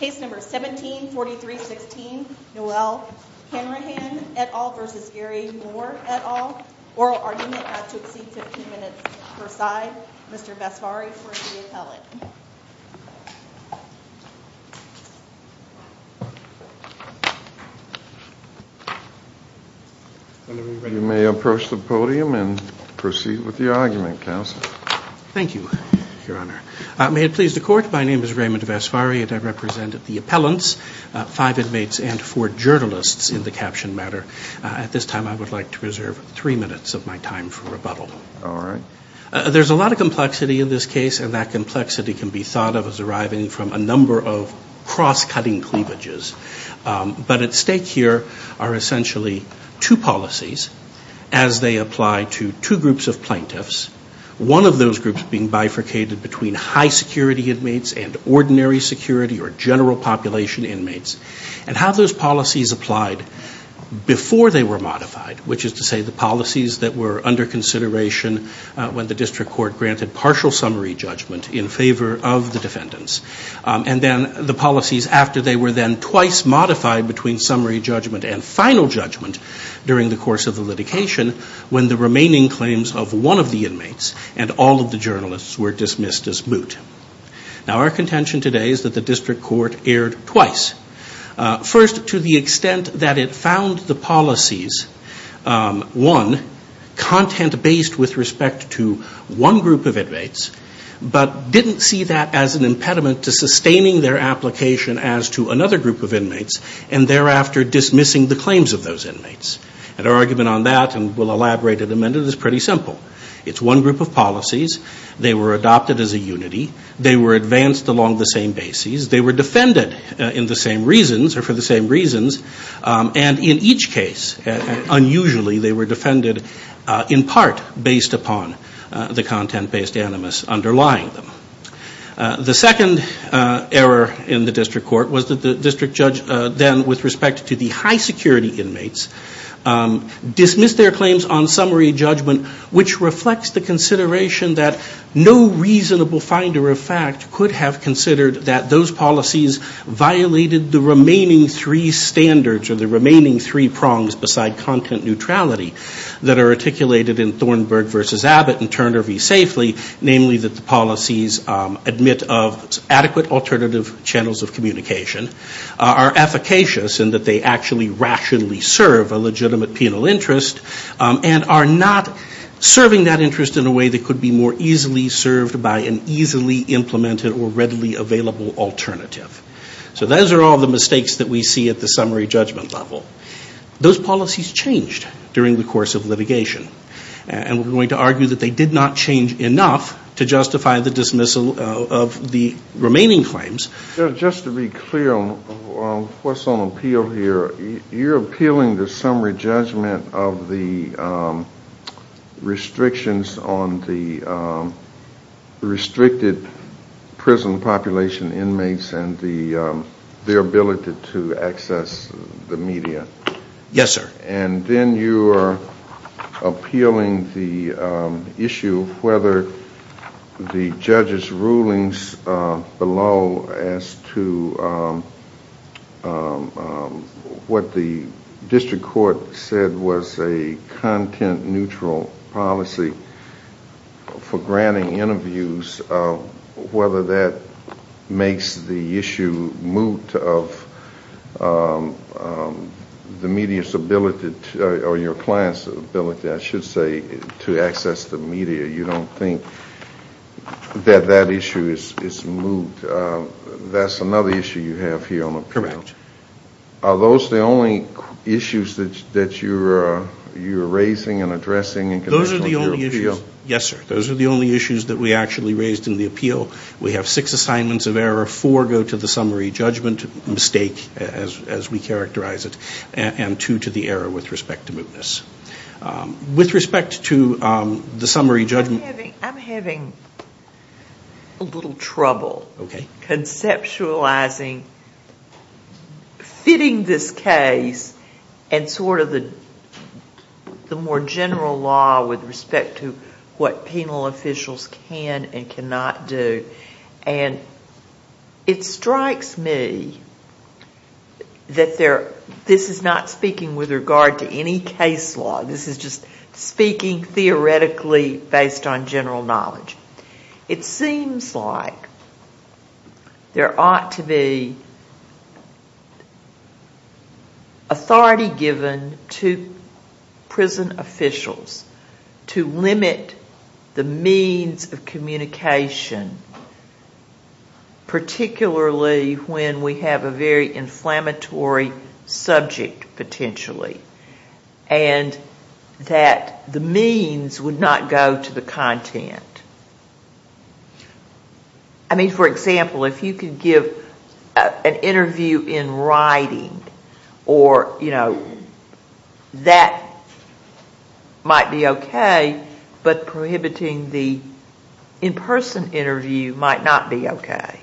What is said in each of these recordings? Case No. 174316, Noelle Hanrahan et al. v. Gary Mohr et al. Oral argument not to exceed 15 minutes per side. Mr. Vasfari for the appellate. You may approach the podium and proceed with your argument, counsel. Thank you, Your Honor. May it please the Court, my name is Raymond Vasfari and I represent the appellants, five inmates and four journalists in the caption matter. At this time I would like to reserve three minutes of my time for rebuttal. All right. There's a lot of complexity in this case and that complexity can be thought of as arriving from a number of cross-cutting cleavages. But at stake here are essentially two policies as they apply to two groups of plaintiffs, one of those groups being bifurcated between high security inmates and ordinary security or general population inmates. And how those policies applied before they were modified, which is to say the policies that were under consideration when the district court granted partial summary judgment in favor of the defendants. And then the policies after they were then twice modified between summary judgment and final judgment during the course of the litigation when the remaining claims of one of the inmates and all of the journalists were dismissed as moot. Now our contention today is that the district court erred twice. First, to the extent that it found the policies, one, content-based with respect to one group of inmates, but didn't see that as an impediment to sustaining their application as to another group of inmates and thereafter dismissing the claims of those inmates. And our argument on that, and we'll elaborate in a minute, is pretty simple. It's one group of policies. They were adopted as a unity. They were advanced along the same bases. They were defended in the same reasons or for the same reasons. And in each case, unusually, they were defended in part based upon the content-based animus underlying them. The second error in the district court was that the district judge then, with respect to the high security inmates, dismissed their claims on summary judgment, which reflects the consideration that no reasonable finder of fact could have considered that those policies violated the remaining three standards or the remaining three prongs beside content neutrality that are articulated in Thornburg v. Abbott and Turner v. Safely, namely that the policies admit of adequate alternative channels of communication are efficacious and that they actually rationally serve a legitimate penal interest and are not serving that interest in a way that could be more easily served by an easily implemented or readily available alternative. So those are all the mistakes that we see at the summary judgment level. Those policies changed during the course of litigation. And we're going to argue that they did not change enough to justify the dismissal of the remaining claims. Just to be clear on what's on appeal here, you're appealing the summary judgment of the restrictions on the restricted prison population inmates and their ability to access the media. Yes, sir. And then you're appealing the issue of whether the judge's rulings below as to what the district court said was a content neutral policy for granting interviews, whether that makes the issue moot of the media's ability or your client's ability, I should say, to access the media. You don't think that that issue is moot. That's another issue you have here on appeal. Correct. Are those the only issues that you're raising and addressing in connection with your appeal? Yes, sir. Those are the only issues that we actually raised in the appeal. We have six assignments of error. Four go to the summary judgment mistake, as we characterize it, and two to the error with respect to mootness. With respect to the summary judgment... I'm having a little trouble conceptualizing, fitting this case and sort of the more general law with respect to what penal officials can and cannot do. And it strikes me that this is not speaking with regard to any case law. This is just speaking theoretically based on general knowledge. It seems like there ought to be authority given to prison officials to limit the means of communication, I mean, for example, if you could give an interview in writing, that might be okay, but prohibiting the in-person interview might not be okay.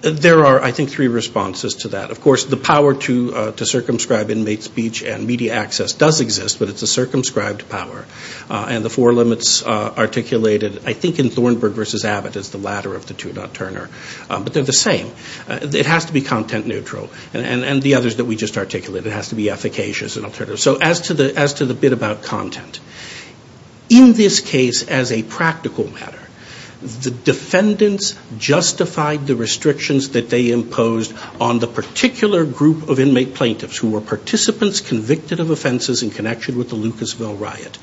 There are, I think, three responses to that. Of course, the power to circumscribe inmate speech and media access does exist, but it's a circumscribed power. And the four limits articulated, I think, in Thornburg v. Abbott is the latter of the two, not Turner. But they're the same. It has to be content neutral. And the others that we just articulated, it has to be efficacious and alternative. So as to the bit about content, in this case, as a practical matter, the defendants justified the restrictions that they imposed on the particular group of inmate plaintiffs who were participants convicted of offenses in connection with the Lucasville riot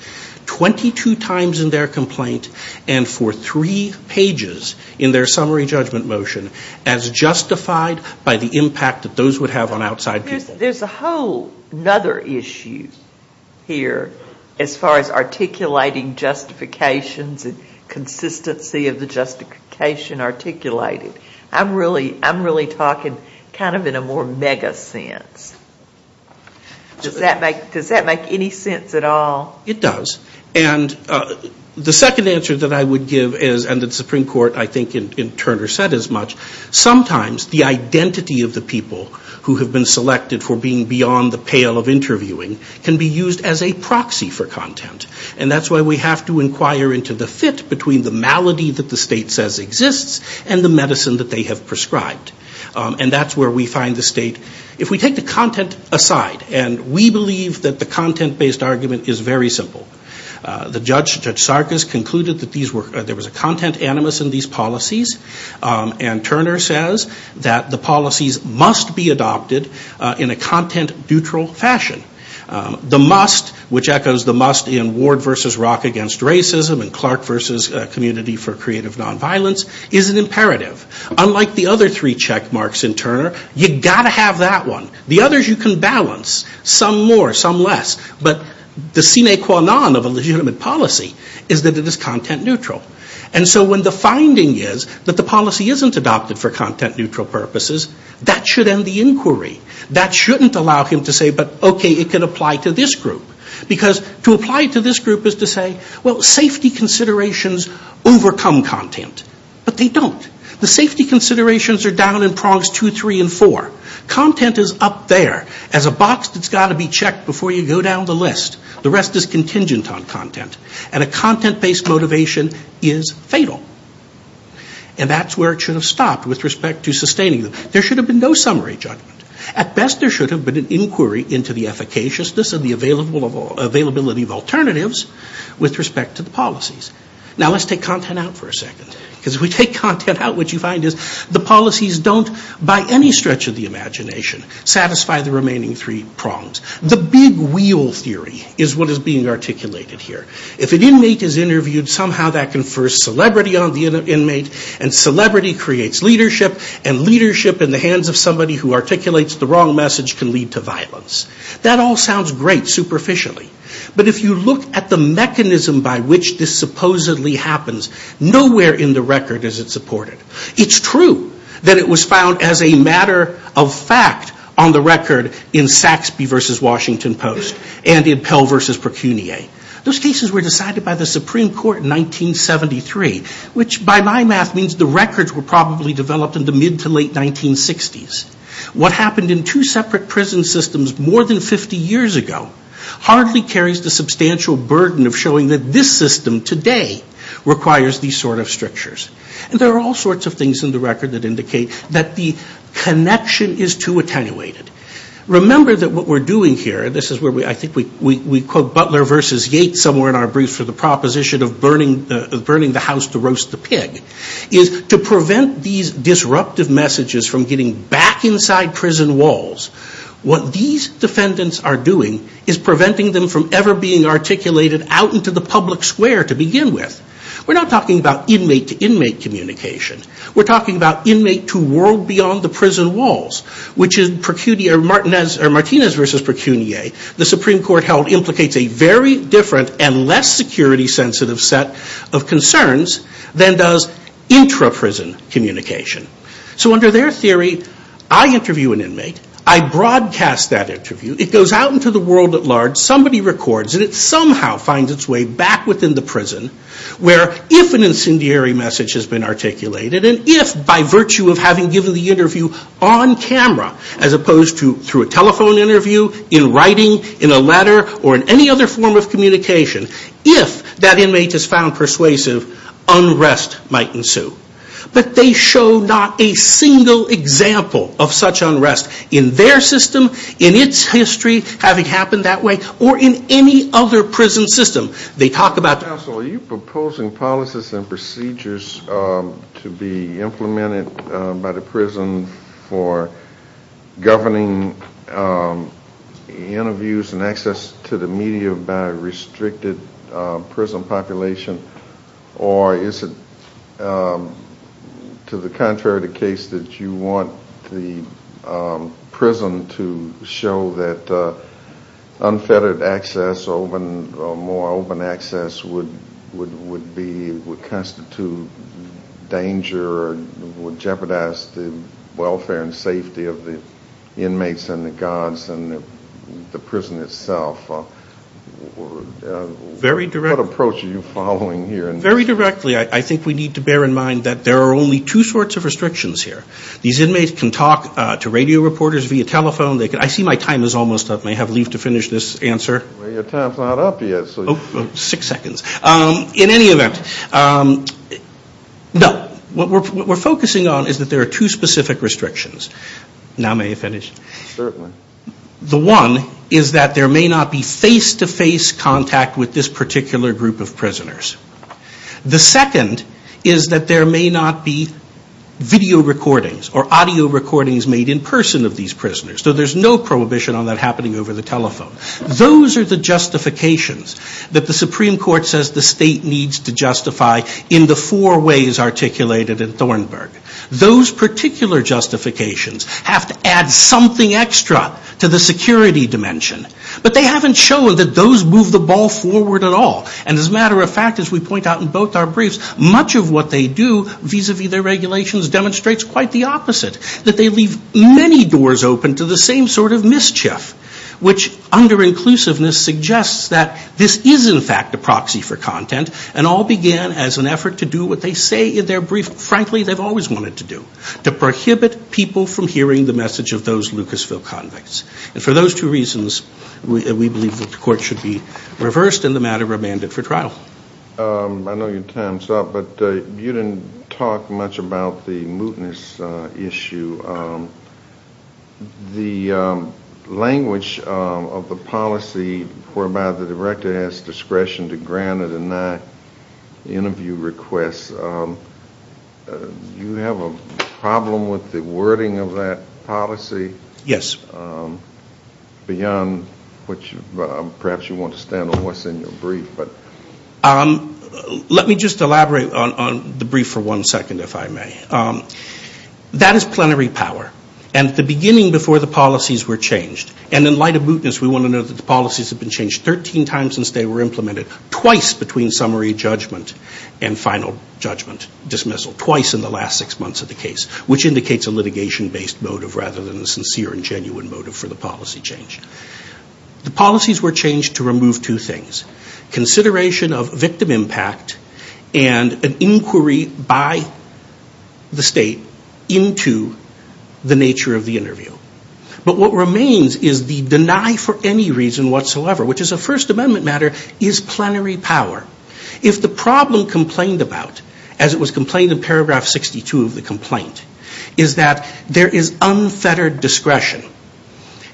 22 times in their complaint and for three pages in their summary judgment motion as justified by the impact that those would have on outside people. There's a whole other issue here as far as articulating justifications and consistency of the justification articulated. I'm really talking kind of in a more mega sense. Does that make any sense at all? It does. And the second answer that I would give is, and the Supreme Court, I think, in Turner said as much, sometimes the identity of the people who have been selected for being beyond the pale of interviewing can be used as a proxy for content. And that's why we have to inquire into the fit between the malady that the state says exists and the medicine that they have prescribed. And that's where we find the state. If we take the content aside, and we believe that the content-based argument is very simple, Judge Sarkis concluded that there was a content animus in these policies, and Turner says that the policies must be adopted in a content-neutral fashion. The must, which echoes the must in Ward v. Rock against racism and Clark v. Community for Creative Nonviolence, is an imperative. Unlike the other three check marks in Turner, you've got to have that one. The others you can balance, some more, some less. But the sine qua non of a legitimate policy is that it is content-neutral. And so when the finding is that the policy isn't adopted for content-neutral purposes, that should end the inquiry. That shouldn't allow him to say, but okay, it can apply to this group. Because to apply to this group is to say, well, safety considerations overcome content. But they don't. The safety considerations are down in prongs two, three, and four. Content is up there as a box that's got to be checked before you go down the list. The rest is contingent on content. And a content-based motivation is fatal. And that's where it should have stopped with respect to sustaining them. There should have been no summary judgment. At best, there should have been an inquiry into the efficaciousness and the availability of alternatives with respect to the policies. Now let's take content out for a second. Because if we take content out, what you find is the policies don't, by any stretch of the imagination, satisfy the remaining three prongs. The big wheel theory is what is being articulated here. If an inmate is interviewed, somehow that confers celebrity on the inmate, and celebrity creates leadership, and leadership in the hands of somebody who articulates the wrong message can lead to violence. That all sounds great superficially. But if you look at the mechanism by which this supposedly happens, nowhere in the record is it supported. It's true that it was found as a matter of fact on the record in Saxby v. Washington Post and in Pell v. Precunier. Those cases were decided by the Supreme Court in 1973, which by my math means the records were probably developed in the mid to late 1960s. What happened in two separate prison systems more than 50 years ago hardly carries the substantial burden of showing that this system today requires these sort of strictures. And there are all sorts of things in the record that indicate that the connection is too attenuated. Remember that what we're doing here, this is where I think we quote Butler v. Yates somewhere in our brief for the proposition of burning the house to roast the pig, is to prevent these disruptive messages from getting back inside prison walls. What these defendants are doing is preventing them from ever being articulated out into the public square to begin with. We're not talking about inmate to inmate communication. We're talking about inmate to world beyond the prison walls, which is Martinez v. Precunier. The Supreme Court held implicates a very different and less security sensitive set of concerns than does intra-prison communication. So under their theory, I interview an inmate. I broadcast that interview. It goes out into the world at large. Somebody records it. It somehow finds its way back within the prison where if an incendiary message has been articulated and if by virtue of having given the interview on camera as opposed to through a telephone interview, in writing, in a letter, or in any other form of communication, if that inmate is found persuasive, unrest might ensue. But they show not a single example of such unrest in their system, in its history, having happened that way, or in any other prison system. Are you proposing policies and procedures to be implemented by the prison for governing interviews and access to the media by a restricted prison population, or is it to the contrary the case that you want the prison to show that unfettered access or more open access would constitute danger or would jeopardize the welfare and safety of the inmates and the guards and the prison itself? What approach are you following here? Very directly. I think we need to bear in mind that there are only two sorts of restrictions here. These inmates can talk to radio reporters via telephone. I see my time is almost up. I may have leave to finish this answer. Your time is not up yet. Six seconds. In any event, no, what we're focusing on is that there are two specific restrictions. Now may I finish? Certainly. The one is that there may not be face-to-face contact with this particular group of prisoners. The second is that there may not be video recordings or audio recordings made in person of these prisoners. So there's no prohibition on that happening over the telephone. Those are the justifications that the Supreme Court says the state needs to justify in the four ways articulated in Thornburg. Those particular justifications have to add something extra to the security dimension. But they haven't shown that those move the ball forward at all. And as a matter of fact, as we point out in both our briefs, much of what they do vis-à-vis their regulations demonstrates quite the opposite, that they leave many doors open to the same sort of mischief, which under inclusiveness suggests that this is, in fact, a proxy for content, and all began as an effort to do what they say in their brief, frankly, they've always wanted to do, to prohibit people from hearing the message of those Lucasville convicts. And for those two reasons, we believe that the Court should be reversed and the matter remanded for trial. I know your time's up, but you didn't talk much about the mootness issue. The language of the policy whereby the director has discretion to grant an interview request, do you have a problem with the wording of that policy? Yes. Beyond which, perhaps you want to stand on what's in your brief. Let me just elaborate on the brief for one second, if I may. That is plenary power, and at the beginning, before the policies were changed, and in light of mootness, we want to know that the policies have been changed 13 times since they were implemented, twice between summary judgment and final judgment dismissal, twice in the last six months of the case, which indicates a litigation-based motive rather than a sincere and genuine motive for the policy change. The policies were changed to remove two things, consideration of victim impact and an inquiry by the state into the nature of the interview. But what remains is the deny for any reason whatsoever, which is a First Amendment matter, is plenary power. If the problem complained about, as it was complained in paragraph 62 of the complaint, is that there is unfettered discretion.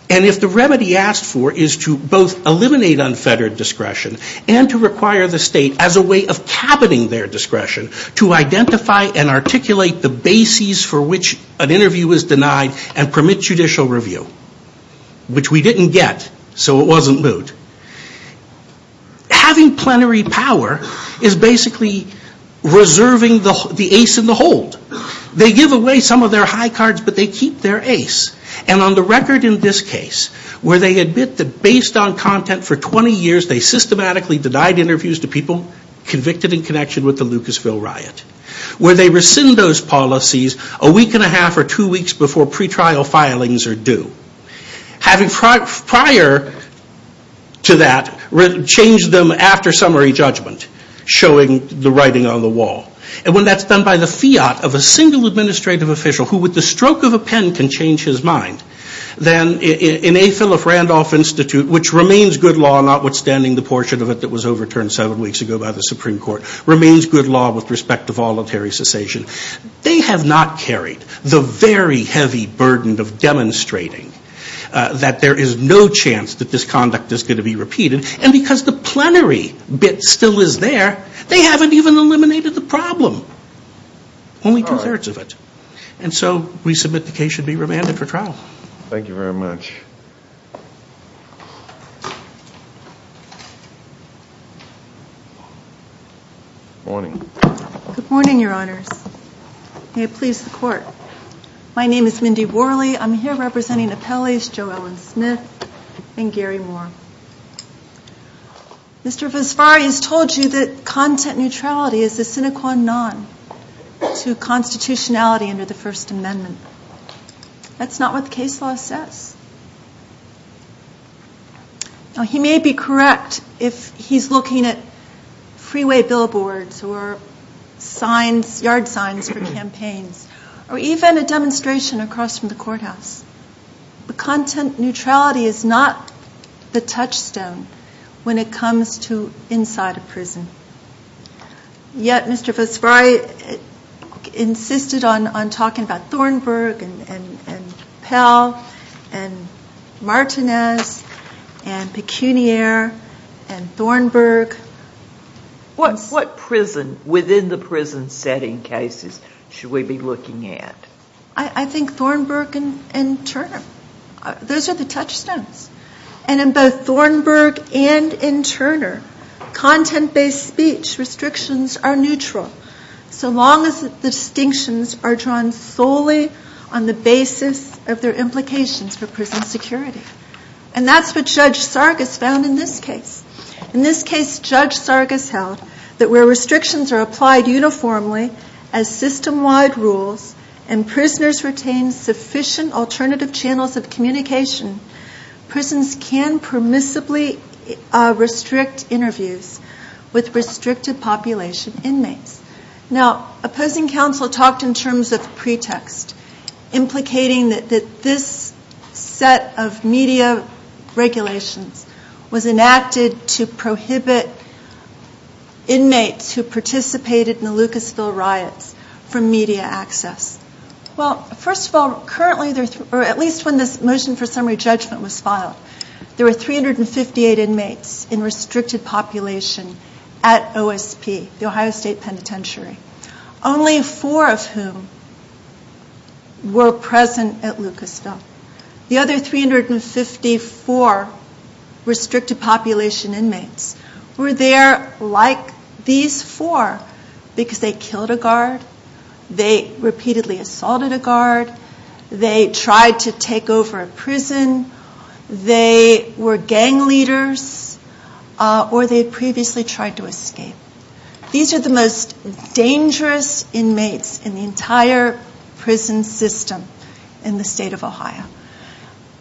And if the remedy asked for is to both eliminate unfettered discretion and to require the state as a way of cabining their discretion to identify and articulate the bases for which an interview is denied and permit judicial review, which we didn't get, so it wasn't moot. Having plenary power is basically reserving the ace in the hold. They give away some of their high cards, but they keep their ace. And on the record in this case, where they admit that based on content for 20 years, they systematically denied interviews to people convicted in connection with the Lucasville riot, where they rescind those policies a week and a half or two weeks before pre-trial filings are due. Having prior to that changed them after summary judgment, showing the writing on the wall. And when that's done by the fiat of a single administrative official who with the stroke of a pen can change his mind, then in A. Philip Randolph Institute, which remains good law, notwithstanding the portion of it that was overturned seven weeks ago by the Supreme Court, remains good law with respect to voluntary cessation. They have not carried the very heavy burden of demonstrating that there is no chance that this conduct is going to be repeated. And because the plenary bit still is there, they haven't even eliminated the problem. Only two-thirds of it. And so we submit the case should be remanded for trial. Thank you very much. Good morning. Good morning, Your Honors. May it please the Court. My name is Mindy Worley. I'm here representing appellees Joe Ellen Smith and Gary Moore. Mr. Vesfari has told you that content neutrality is a sine qua non to constitutionality under the First Amendment. That's not what the case law says. Now, he may be correct if he's looking at freeway billboards or yard signs for campaigns or even a demonstration across from the courthouse. But content neutrality is not the touchstone when it comes to inside a prison. Yet Mr. Vesfari insisted on talking about Thornburg and Pell and Martinez and Pecuniar and Thornburg. What prison within the prison setting cases should we be looking at? I think Thornburg and Turner. Those are the touchstones. And in both Thornburg and in Turner, content-based speech restrictions are neutral. So long as the distinctions are drawn solely on the basis of their implications for prison security. And that's what Judge Sargas found in this case. In this case, Judge Sargas held that where restrictions are applied uniformly as system-wide rules and prisoners retain sufficient alternative channels of communication, prisons can permissibly restrict interviews with restricted population inmates. Now, opposing counsel talked in terms of pretext, implicating that this set of media regulations was enacted to prohibit inmates who participated in the Lucasville riots from media access. Well, first of all, at least when this motion for summary judgment was filed, there were 358 inmates in restricted population at OSP, the Ohio State Penitentiary. Only four of whom were present at Lucasville. The other 354 restricted population inmates were there like these four because they killed a guard, they repeatedly assaulted a guard, they tried to take over a prison, they were gang leaders, or they previously tried to escape. These are the most dangerous inmates in the entire prison system in the state of Ohio.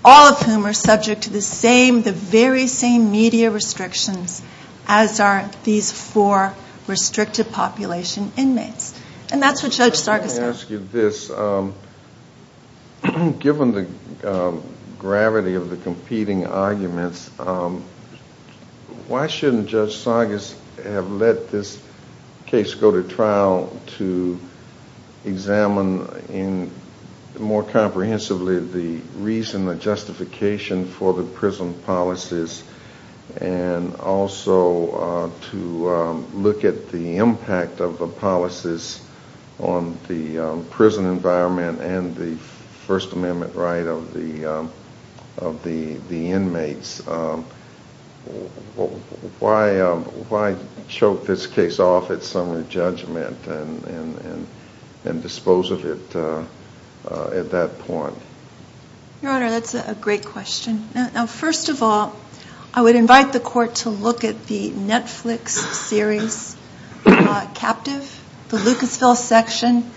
All of whom are subject to the same, the very same media restrictions as are these four restricted population inmates. And that's what Judge Sargas said. Let me ask you this. Given the gravity of the competing arguments, why shouldn't Judge Sargas have let this case go to trial to examine more comprehensively the reason, the justification for the prison policies and also to look at the impact of the policies on the prison environment and the First Amendment right of the inmates? Why choke this case off at summary judgment and dispose of it at that point? Your Honor, that's a great question. First of all, I would invite the Court to look at the Netflix series, Captive, the Lucasville section.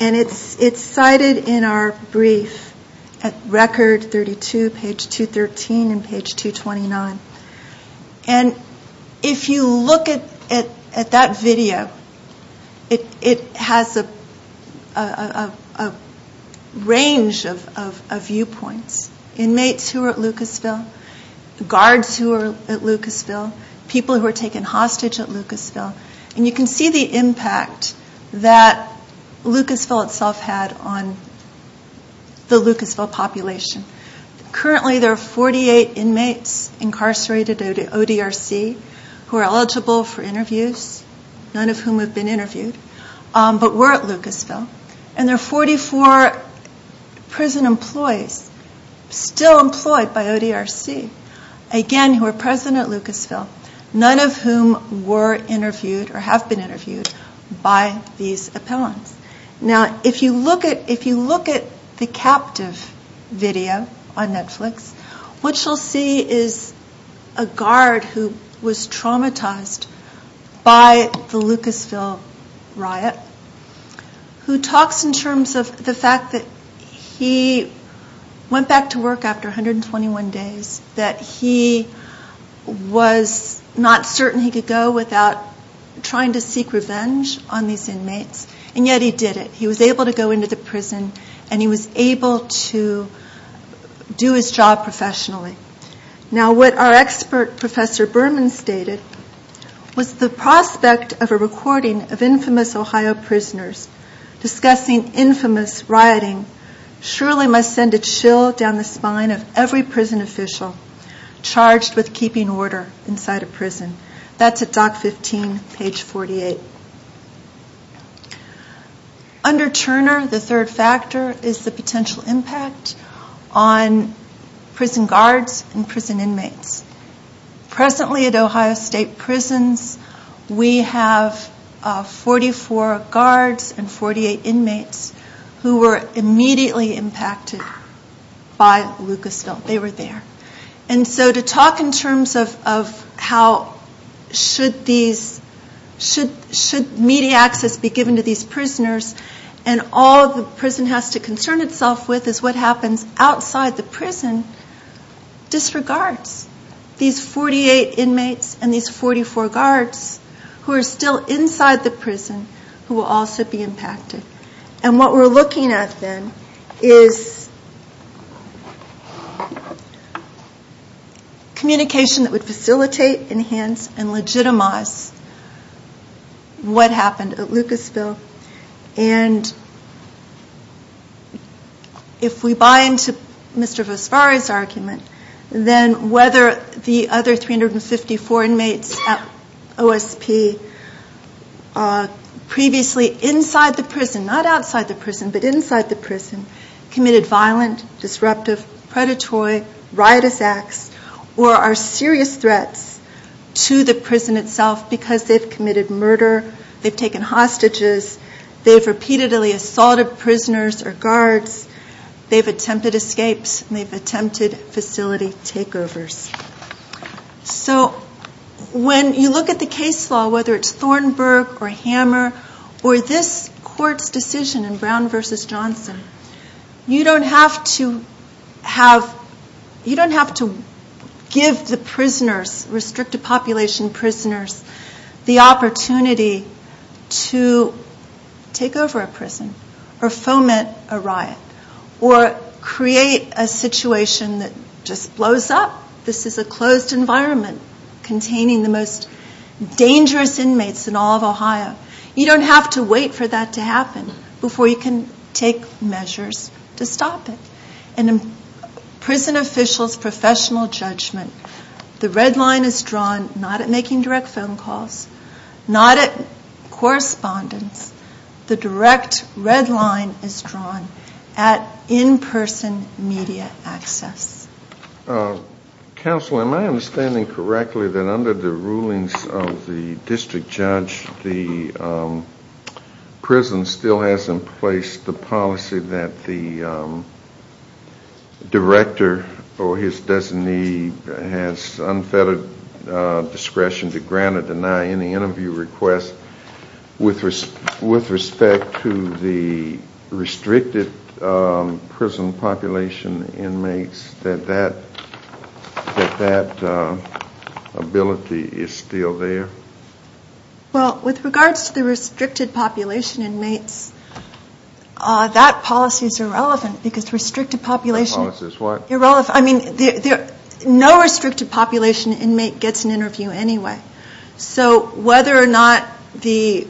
And it's cited in our brief at Record 32, page 213 and page 229. And if you look at that video, it has a range of viewpoints. Inmates who are at Lucasville, guards who are at Lucasville, and you can see the impact that Lucasville itself had on the Lucasville population. Currently there are 48 inmates incarcerated at ODRC who are eligible for interviews, none of whom have been interviewed, but were at Lucasville. And there are 44 prison employees still employed by ODRC, again, who are present at Lucasville, none of whom were interviewed or have been interviewed by these appellants. Now, if you look at the Captive video on Netflix, what you'll see is a guard who was traumatized by the Lucasville riot, who talks in terms of the fact that he went back to work after 121 days, that he was not certain he could go without trying to seek revenge on these inmates, and yet he did it. He was able to go into the prison, and he was able to do his job professionally. Now, what our expert Professor Berman stated was the prospect of a recording of infamous Ohio prisoners discussing infamous rioting surely must send a chill down the spine of every prison official charged with keeping order inside a prison. That's at Dock 15, page 48. Under Turner, the third factor is the potential impact on prison guards and prison inmates. Presently at Ohio State Prisons, we have 44 guards and 48 inmates who were immediately impacted by Lucasville. They were there. And so to talk in terms of how should media access be given to these prisoners and all the prison has to concern itself with is what happens outside the prison, disregards these 48 inmates and these 44 guards who are still inside the prison who will also be impacted. And what we're looking at then is communication that would facilitate, enhance, and legitimize what happened at Lucasville. And if we buy into Mr. Vosvary's argument, then whether the other 354 inmates at OSP previously inside the prison, not outside the prison, but inside the prison, committed violent, disruptive, predatory, riotous acts or are serious threats to the prison itself because they've committed murder, they've taken hostages, they've repeatedly assaulted prisoners or guards, they've attempted escapes and they've attempted facility takeovers. So when you look at the case law, whether it's Thornburg or Hammer or this court's decision in Brown v. Johnson, you don't have to give the prisoners, restricted population prisoners, the opportunity to take over a prison or foment a riot or create a situation that just blows up. This is a closed environment containing the most dangerous inmates in all of Ohio. You don't have to wait for that to happen before you can take measures to stop it. In a prison official's professional judgment, the red line is drawn not at making direct phone calls, not at correspondence. The direct red line is drawn at in-person media access. Counsel, am I understanding correctly that under the rulings of the district judge, the prison still has in place the policy that the director or his designee has unfettered discretion to grant or deny any interview request with respect to the restricted prison population inmates, that that ability is still there? Well, with regards to the restricted population inmates, that policy is irrelevant because restricted population inmates get an interview anyway. So whether or not the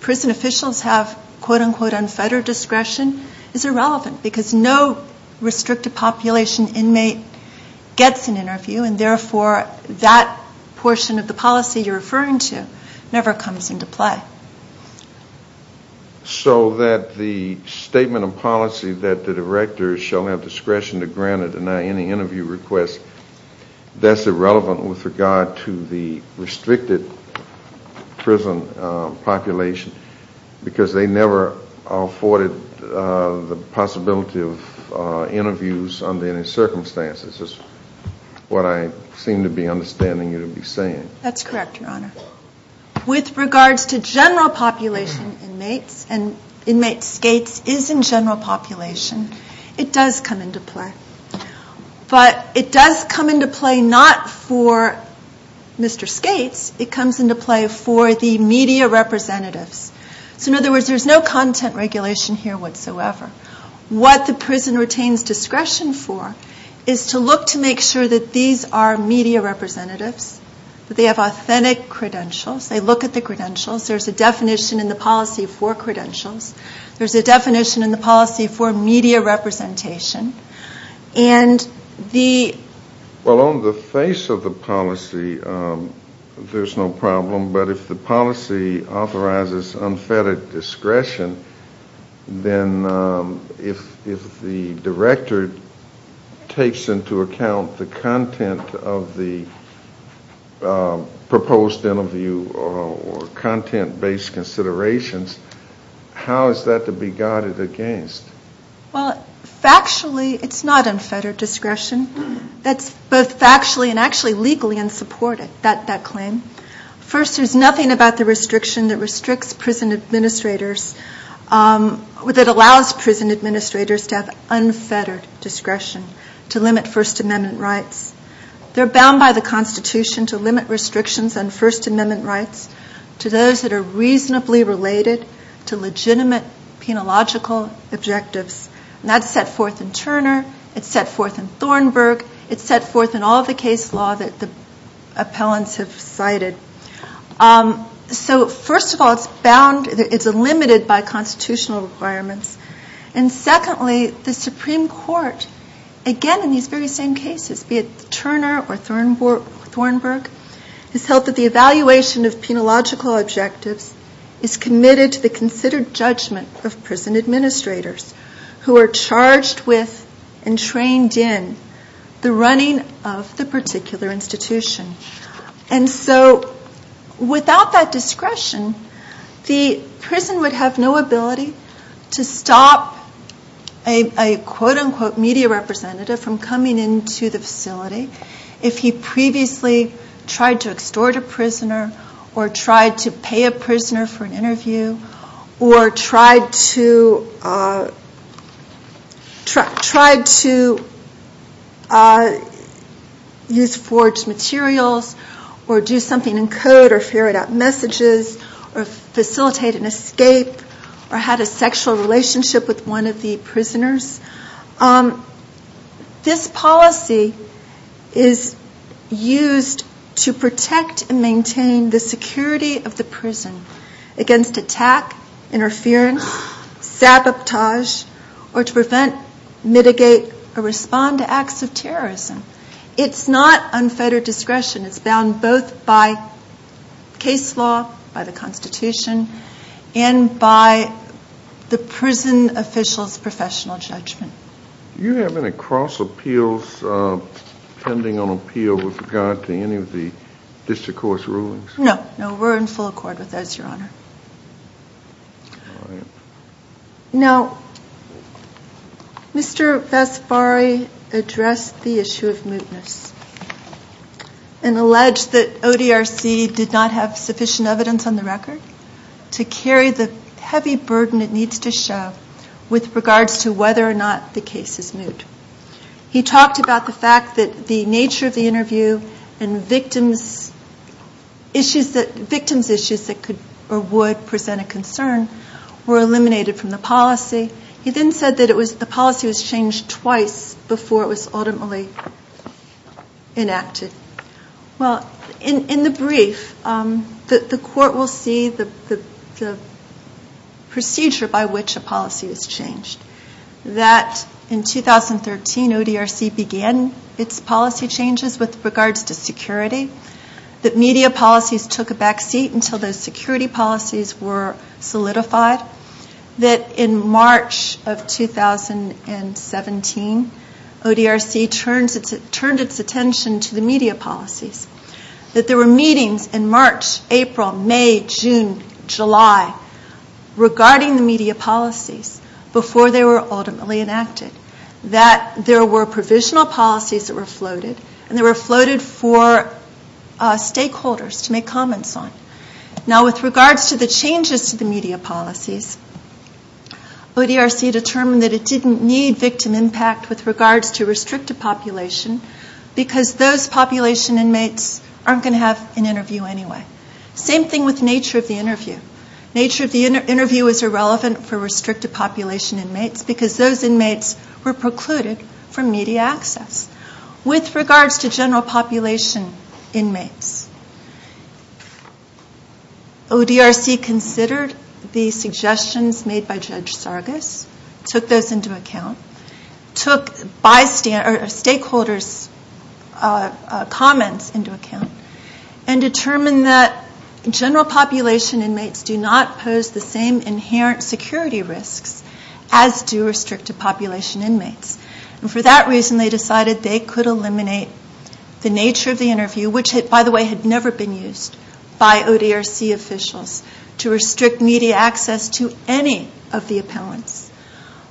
prison officials have quote-unquote unfettered discretion is irrelevant because no restricted population inmate gets an interview and therefore that portion of the policy you're referring to never comes into play. So that the statement of policy that the director shall have discretion to grant or deny any interview request, that's irrelevant with regard to the restricted prison population because they never afforded the possibility of interviews under any circumstances. This is what I seem to be understanding you to be saying. That's correct, Your Honor. With regards to general population inmates, and inmate skates is in general population, it does come into play. But it does come into play not for Mr. Skates. It comes into play for the media representatives. So in other words, there's no content regulation here whatsoever. What the prison retains discretion for is to look to make sure that these are media representatives, that they have authentic credentials, they look at the credentials, there's a definition in the policy for credentials, there's a definition in the policy for media representation, and the... Well, on the face of the policy, there's no problem. But if the policy authorizes unfettered discretion, then if the director takes into account the content of the proposed interview or content-based considerations, how is that to be guided against? Well, factually, it's not unfettered discretion. That's both factually and actually legally unsupported, that claim. First, there's nothing about the restriction that restricts prison administrators, that allows prison administrators to have unfettered discretion to limit First Amendment rights. They're bound by the Constitution to limit restrictions on First Amendment rights to those that are reasonably related to legitimate penological objectives. And that's set forth in Turner. It's set forth in Thornburg. It's set forth in all of the case law that the appellants have cited. So first of all, it's bound, it's limited by constitutional requirements. And secondly, the Supreme Court, again in these very same cases, be it Turner or Thornburg, has held that the evaluation of penological objectives is committed to the considered judgment of prison administrators who are charged with and trained in the running of the particular institution. And so without that discretion, the prison would have no ability to stop a quote-unquote media representative from coming into the facility if he previously tried to extort a prisoner or tried to pay a prisoner for an interview or tried to use forged materials or do something in code or ferret out messages or facilitate an escape or had a sexual relationship with one of the prisoners. This policy is used to protect and maintain the security of the prison against attack, interference, sabotage, or to prevent, mitigate, or respond to acts of terrorism. It's not unfettered discretion. It's bound both by case law, by the Constitution, and by the prison officials' professional judgment. Do you have any cross appeals pending on appeal with regard to any of the district court's rulings? No. No, we're in full accord with those, Your Honor. All right. Now, Mr. Vasbari addressed the issue of mootness. And alleged that ODRC did not have sufficient evidence on the record to carry the heavy burden it needs to show with regards to whether or not the case is moot. He talked about the fact that the nature of the interview and victims' issues that could or would present a concern were eliminated from the policy. He then said that the policy was changed twice before it was ultimately enacted. Well, in the brief, the court will see the procedure by which a policy was changed, that in 2013, ODRC began its policy changes with regards to security, that media policies took a back seat until the security policies were solidified, that in March of 2017, ODRC turned its attention to the media policies, that there were meetings in March, April, May, June, July, regarding the media policies before they were ultimately enacted, that there were provisional policies that were floated, and they were floated for stakeholders to make comments on. Now, with regards to the changes to the media policies, ODRC determined that it didn't need victim impact with regards to restrictive population because those population inmates aren't going to have an interview anyway. Same thing with nature of the interview. Nature of the interview is irrelevant for restrictive population inmates because those inmates were precluded from media access. With regards to general population inmates, ODRC considered the suggestions made by Judge Sargas, took those into account, took stakeholders' comments into account, and determined that general population inmates do not pose the same inherent security risks as do restrictive population inmates. For that reason, they decided they could eliminate the nature of the interview, which, by the way, had never been used by ODRC officials to restrict media access to any of the appellants.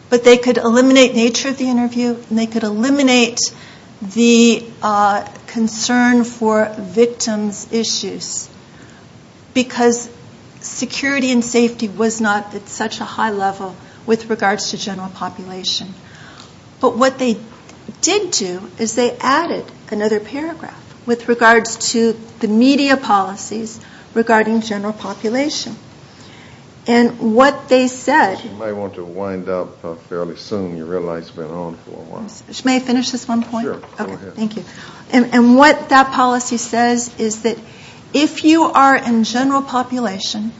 But they could eliminate nature of the interview, and they could eliminate the concern for victims' issues because security and safety was not at such a high level with regards to general population. But what they did do is they added another paragraph with regards to the media policies regarding general population. And what they said... You may want to wind up fairly soon. Your real light's been on for a while. May I finish this one point? Sure. Go ahead. Thank you. And what that policy says is that if you are in general population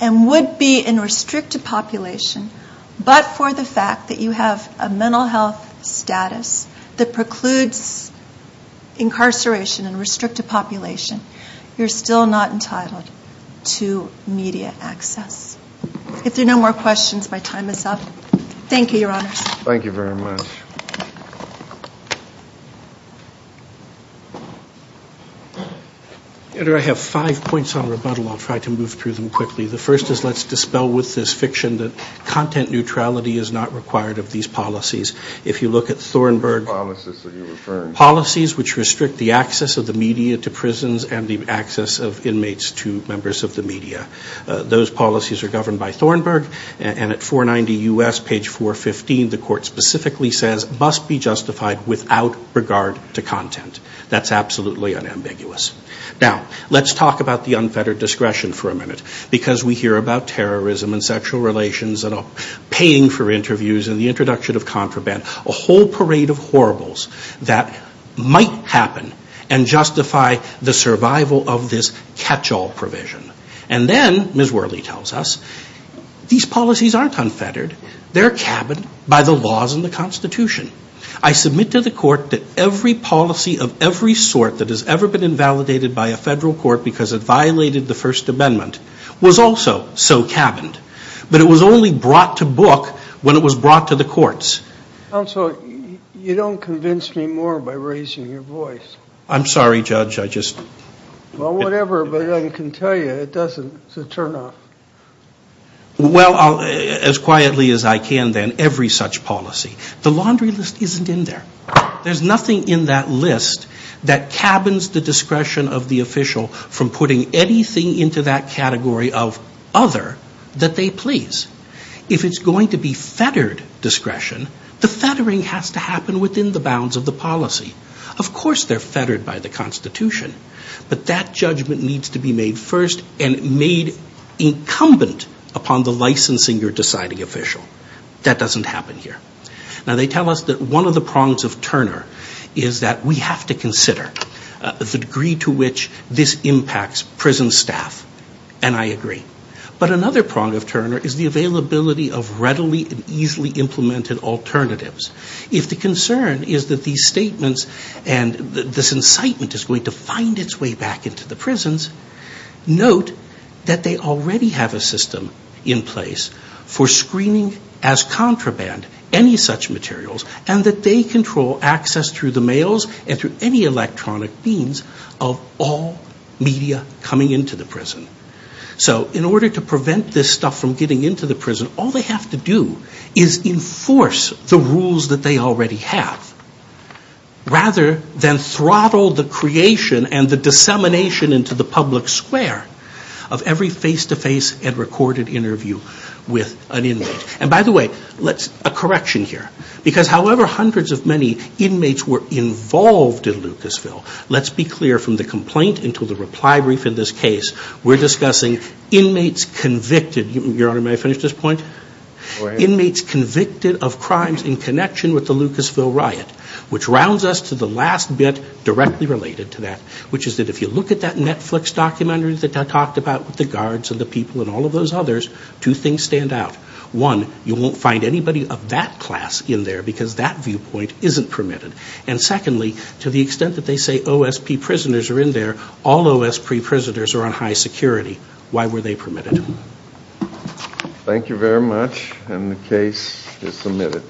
and would be in restrictive population, but for the fact that you have a mental health status that precludes incarceration in restrictive population, you're still not entitled to media access. If there are no more questions, my time is up. Thank you, Your Honors. Thank you very much. I have five points on rebuttal. I'll try to move through them quickly. The first is let's dispel with this fiction that content neutrality is not required of these policies. If you look at Thornburg... What policies are you referring to? Policies which restrict the access of the media to prisons and the access of inmates to members of the media. Those policies are governed by Thornburg. And at 490 U.S., page 415, the court specifically says must be justified without regard to content. That's absolutely unambiguous. Now, let's talk about the unfettered discretion for a minute because we hear about terrorism and sexual relations and paying for interviews and the introduction of contraband, a whole parade of horribles that might happen and justify the survival of this catch-all provision. And then, Ms. Worley tells us, these policies aren't unfettered. They're cabined by the laws in the Constitution. I submit to the court that every policy of every sort that has ever been invalidated by a federal court because it violated the First Amendment was also so cabined. But it was only brought to book when it was brought to the courts. Counsel, you don't convince me more by raising your voice. I'm sorry, Judge, I just... Well, whatever, but I can tell you it doesn't. It's a turn-off. Well, as quietly as I can, then, every such policy. The laundry list isn't in there. There's nothing in that list that cabins the discretion of the official from putting anything into that category of other that they please. If it's going to be fettered discretion, the fettering has to happen within the bounds of the policy. Of course they're fettered by the Constitution, but that judgment needs to be made first and made incumbent upon the licensing or deciding official. That doesn't happen here. Now, they tell us that one of the prongs of Turner is that we have to consider the degree to which this impacts prison staff, and I agree. But another prong of Turner is the availability of readily and easily implemented alternatives. If the concern is that these statements and this incitement is going to find its way back into the prisons, note that they already have a system in place for screening as contraband any such materials and that they control access through the mails and through any electronic means of all media coming into the prison. So in order to prevent this stuff from getting into the prison, all they have to do is enforce the rules that they already have rather than throttle the creation and the dissemination into the public square of every face-to-face and recorded interview with an inmate. And by the way, a correction here, because however hundreds of many inmates were involved in Lucasville, let's be clear from the complaint until the reply brief in this case, we're discussing inmates convicted. Your Honor, may I finish this point? Inmates convicted of crimes in connection with the Lucasville riot, which rounds us to the last bit directly related to that, which is that if you look at that Netflix documentary that I talked about with the guards and the people and all of those others, two things stand out. One, you won't find anybody of that class in there because that viewpoint isn't permitted. And secondly, to the extent that they say OSP prisoners are in there, all OSP prisoners are on high security. Why were they permitted? Thank you very much, and the case is submitted.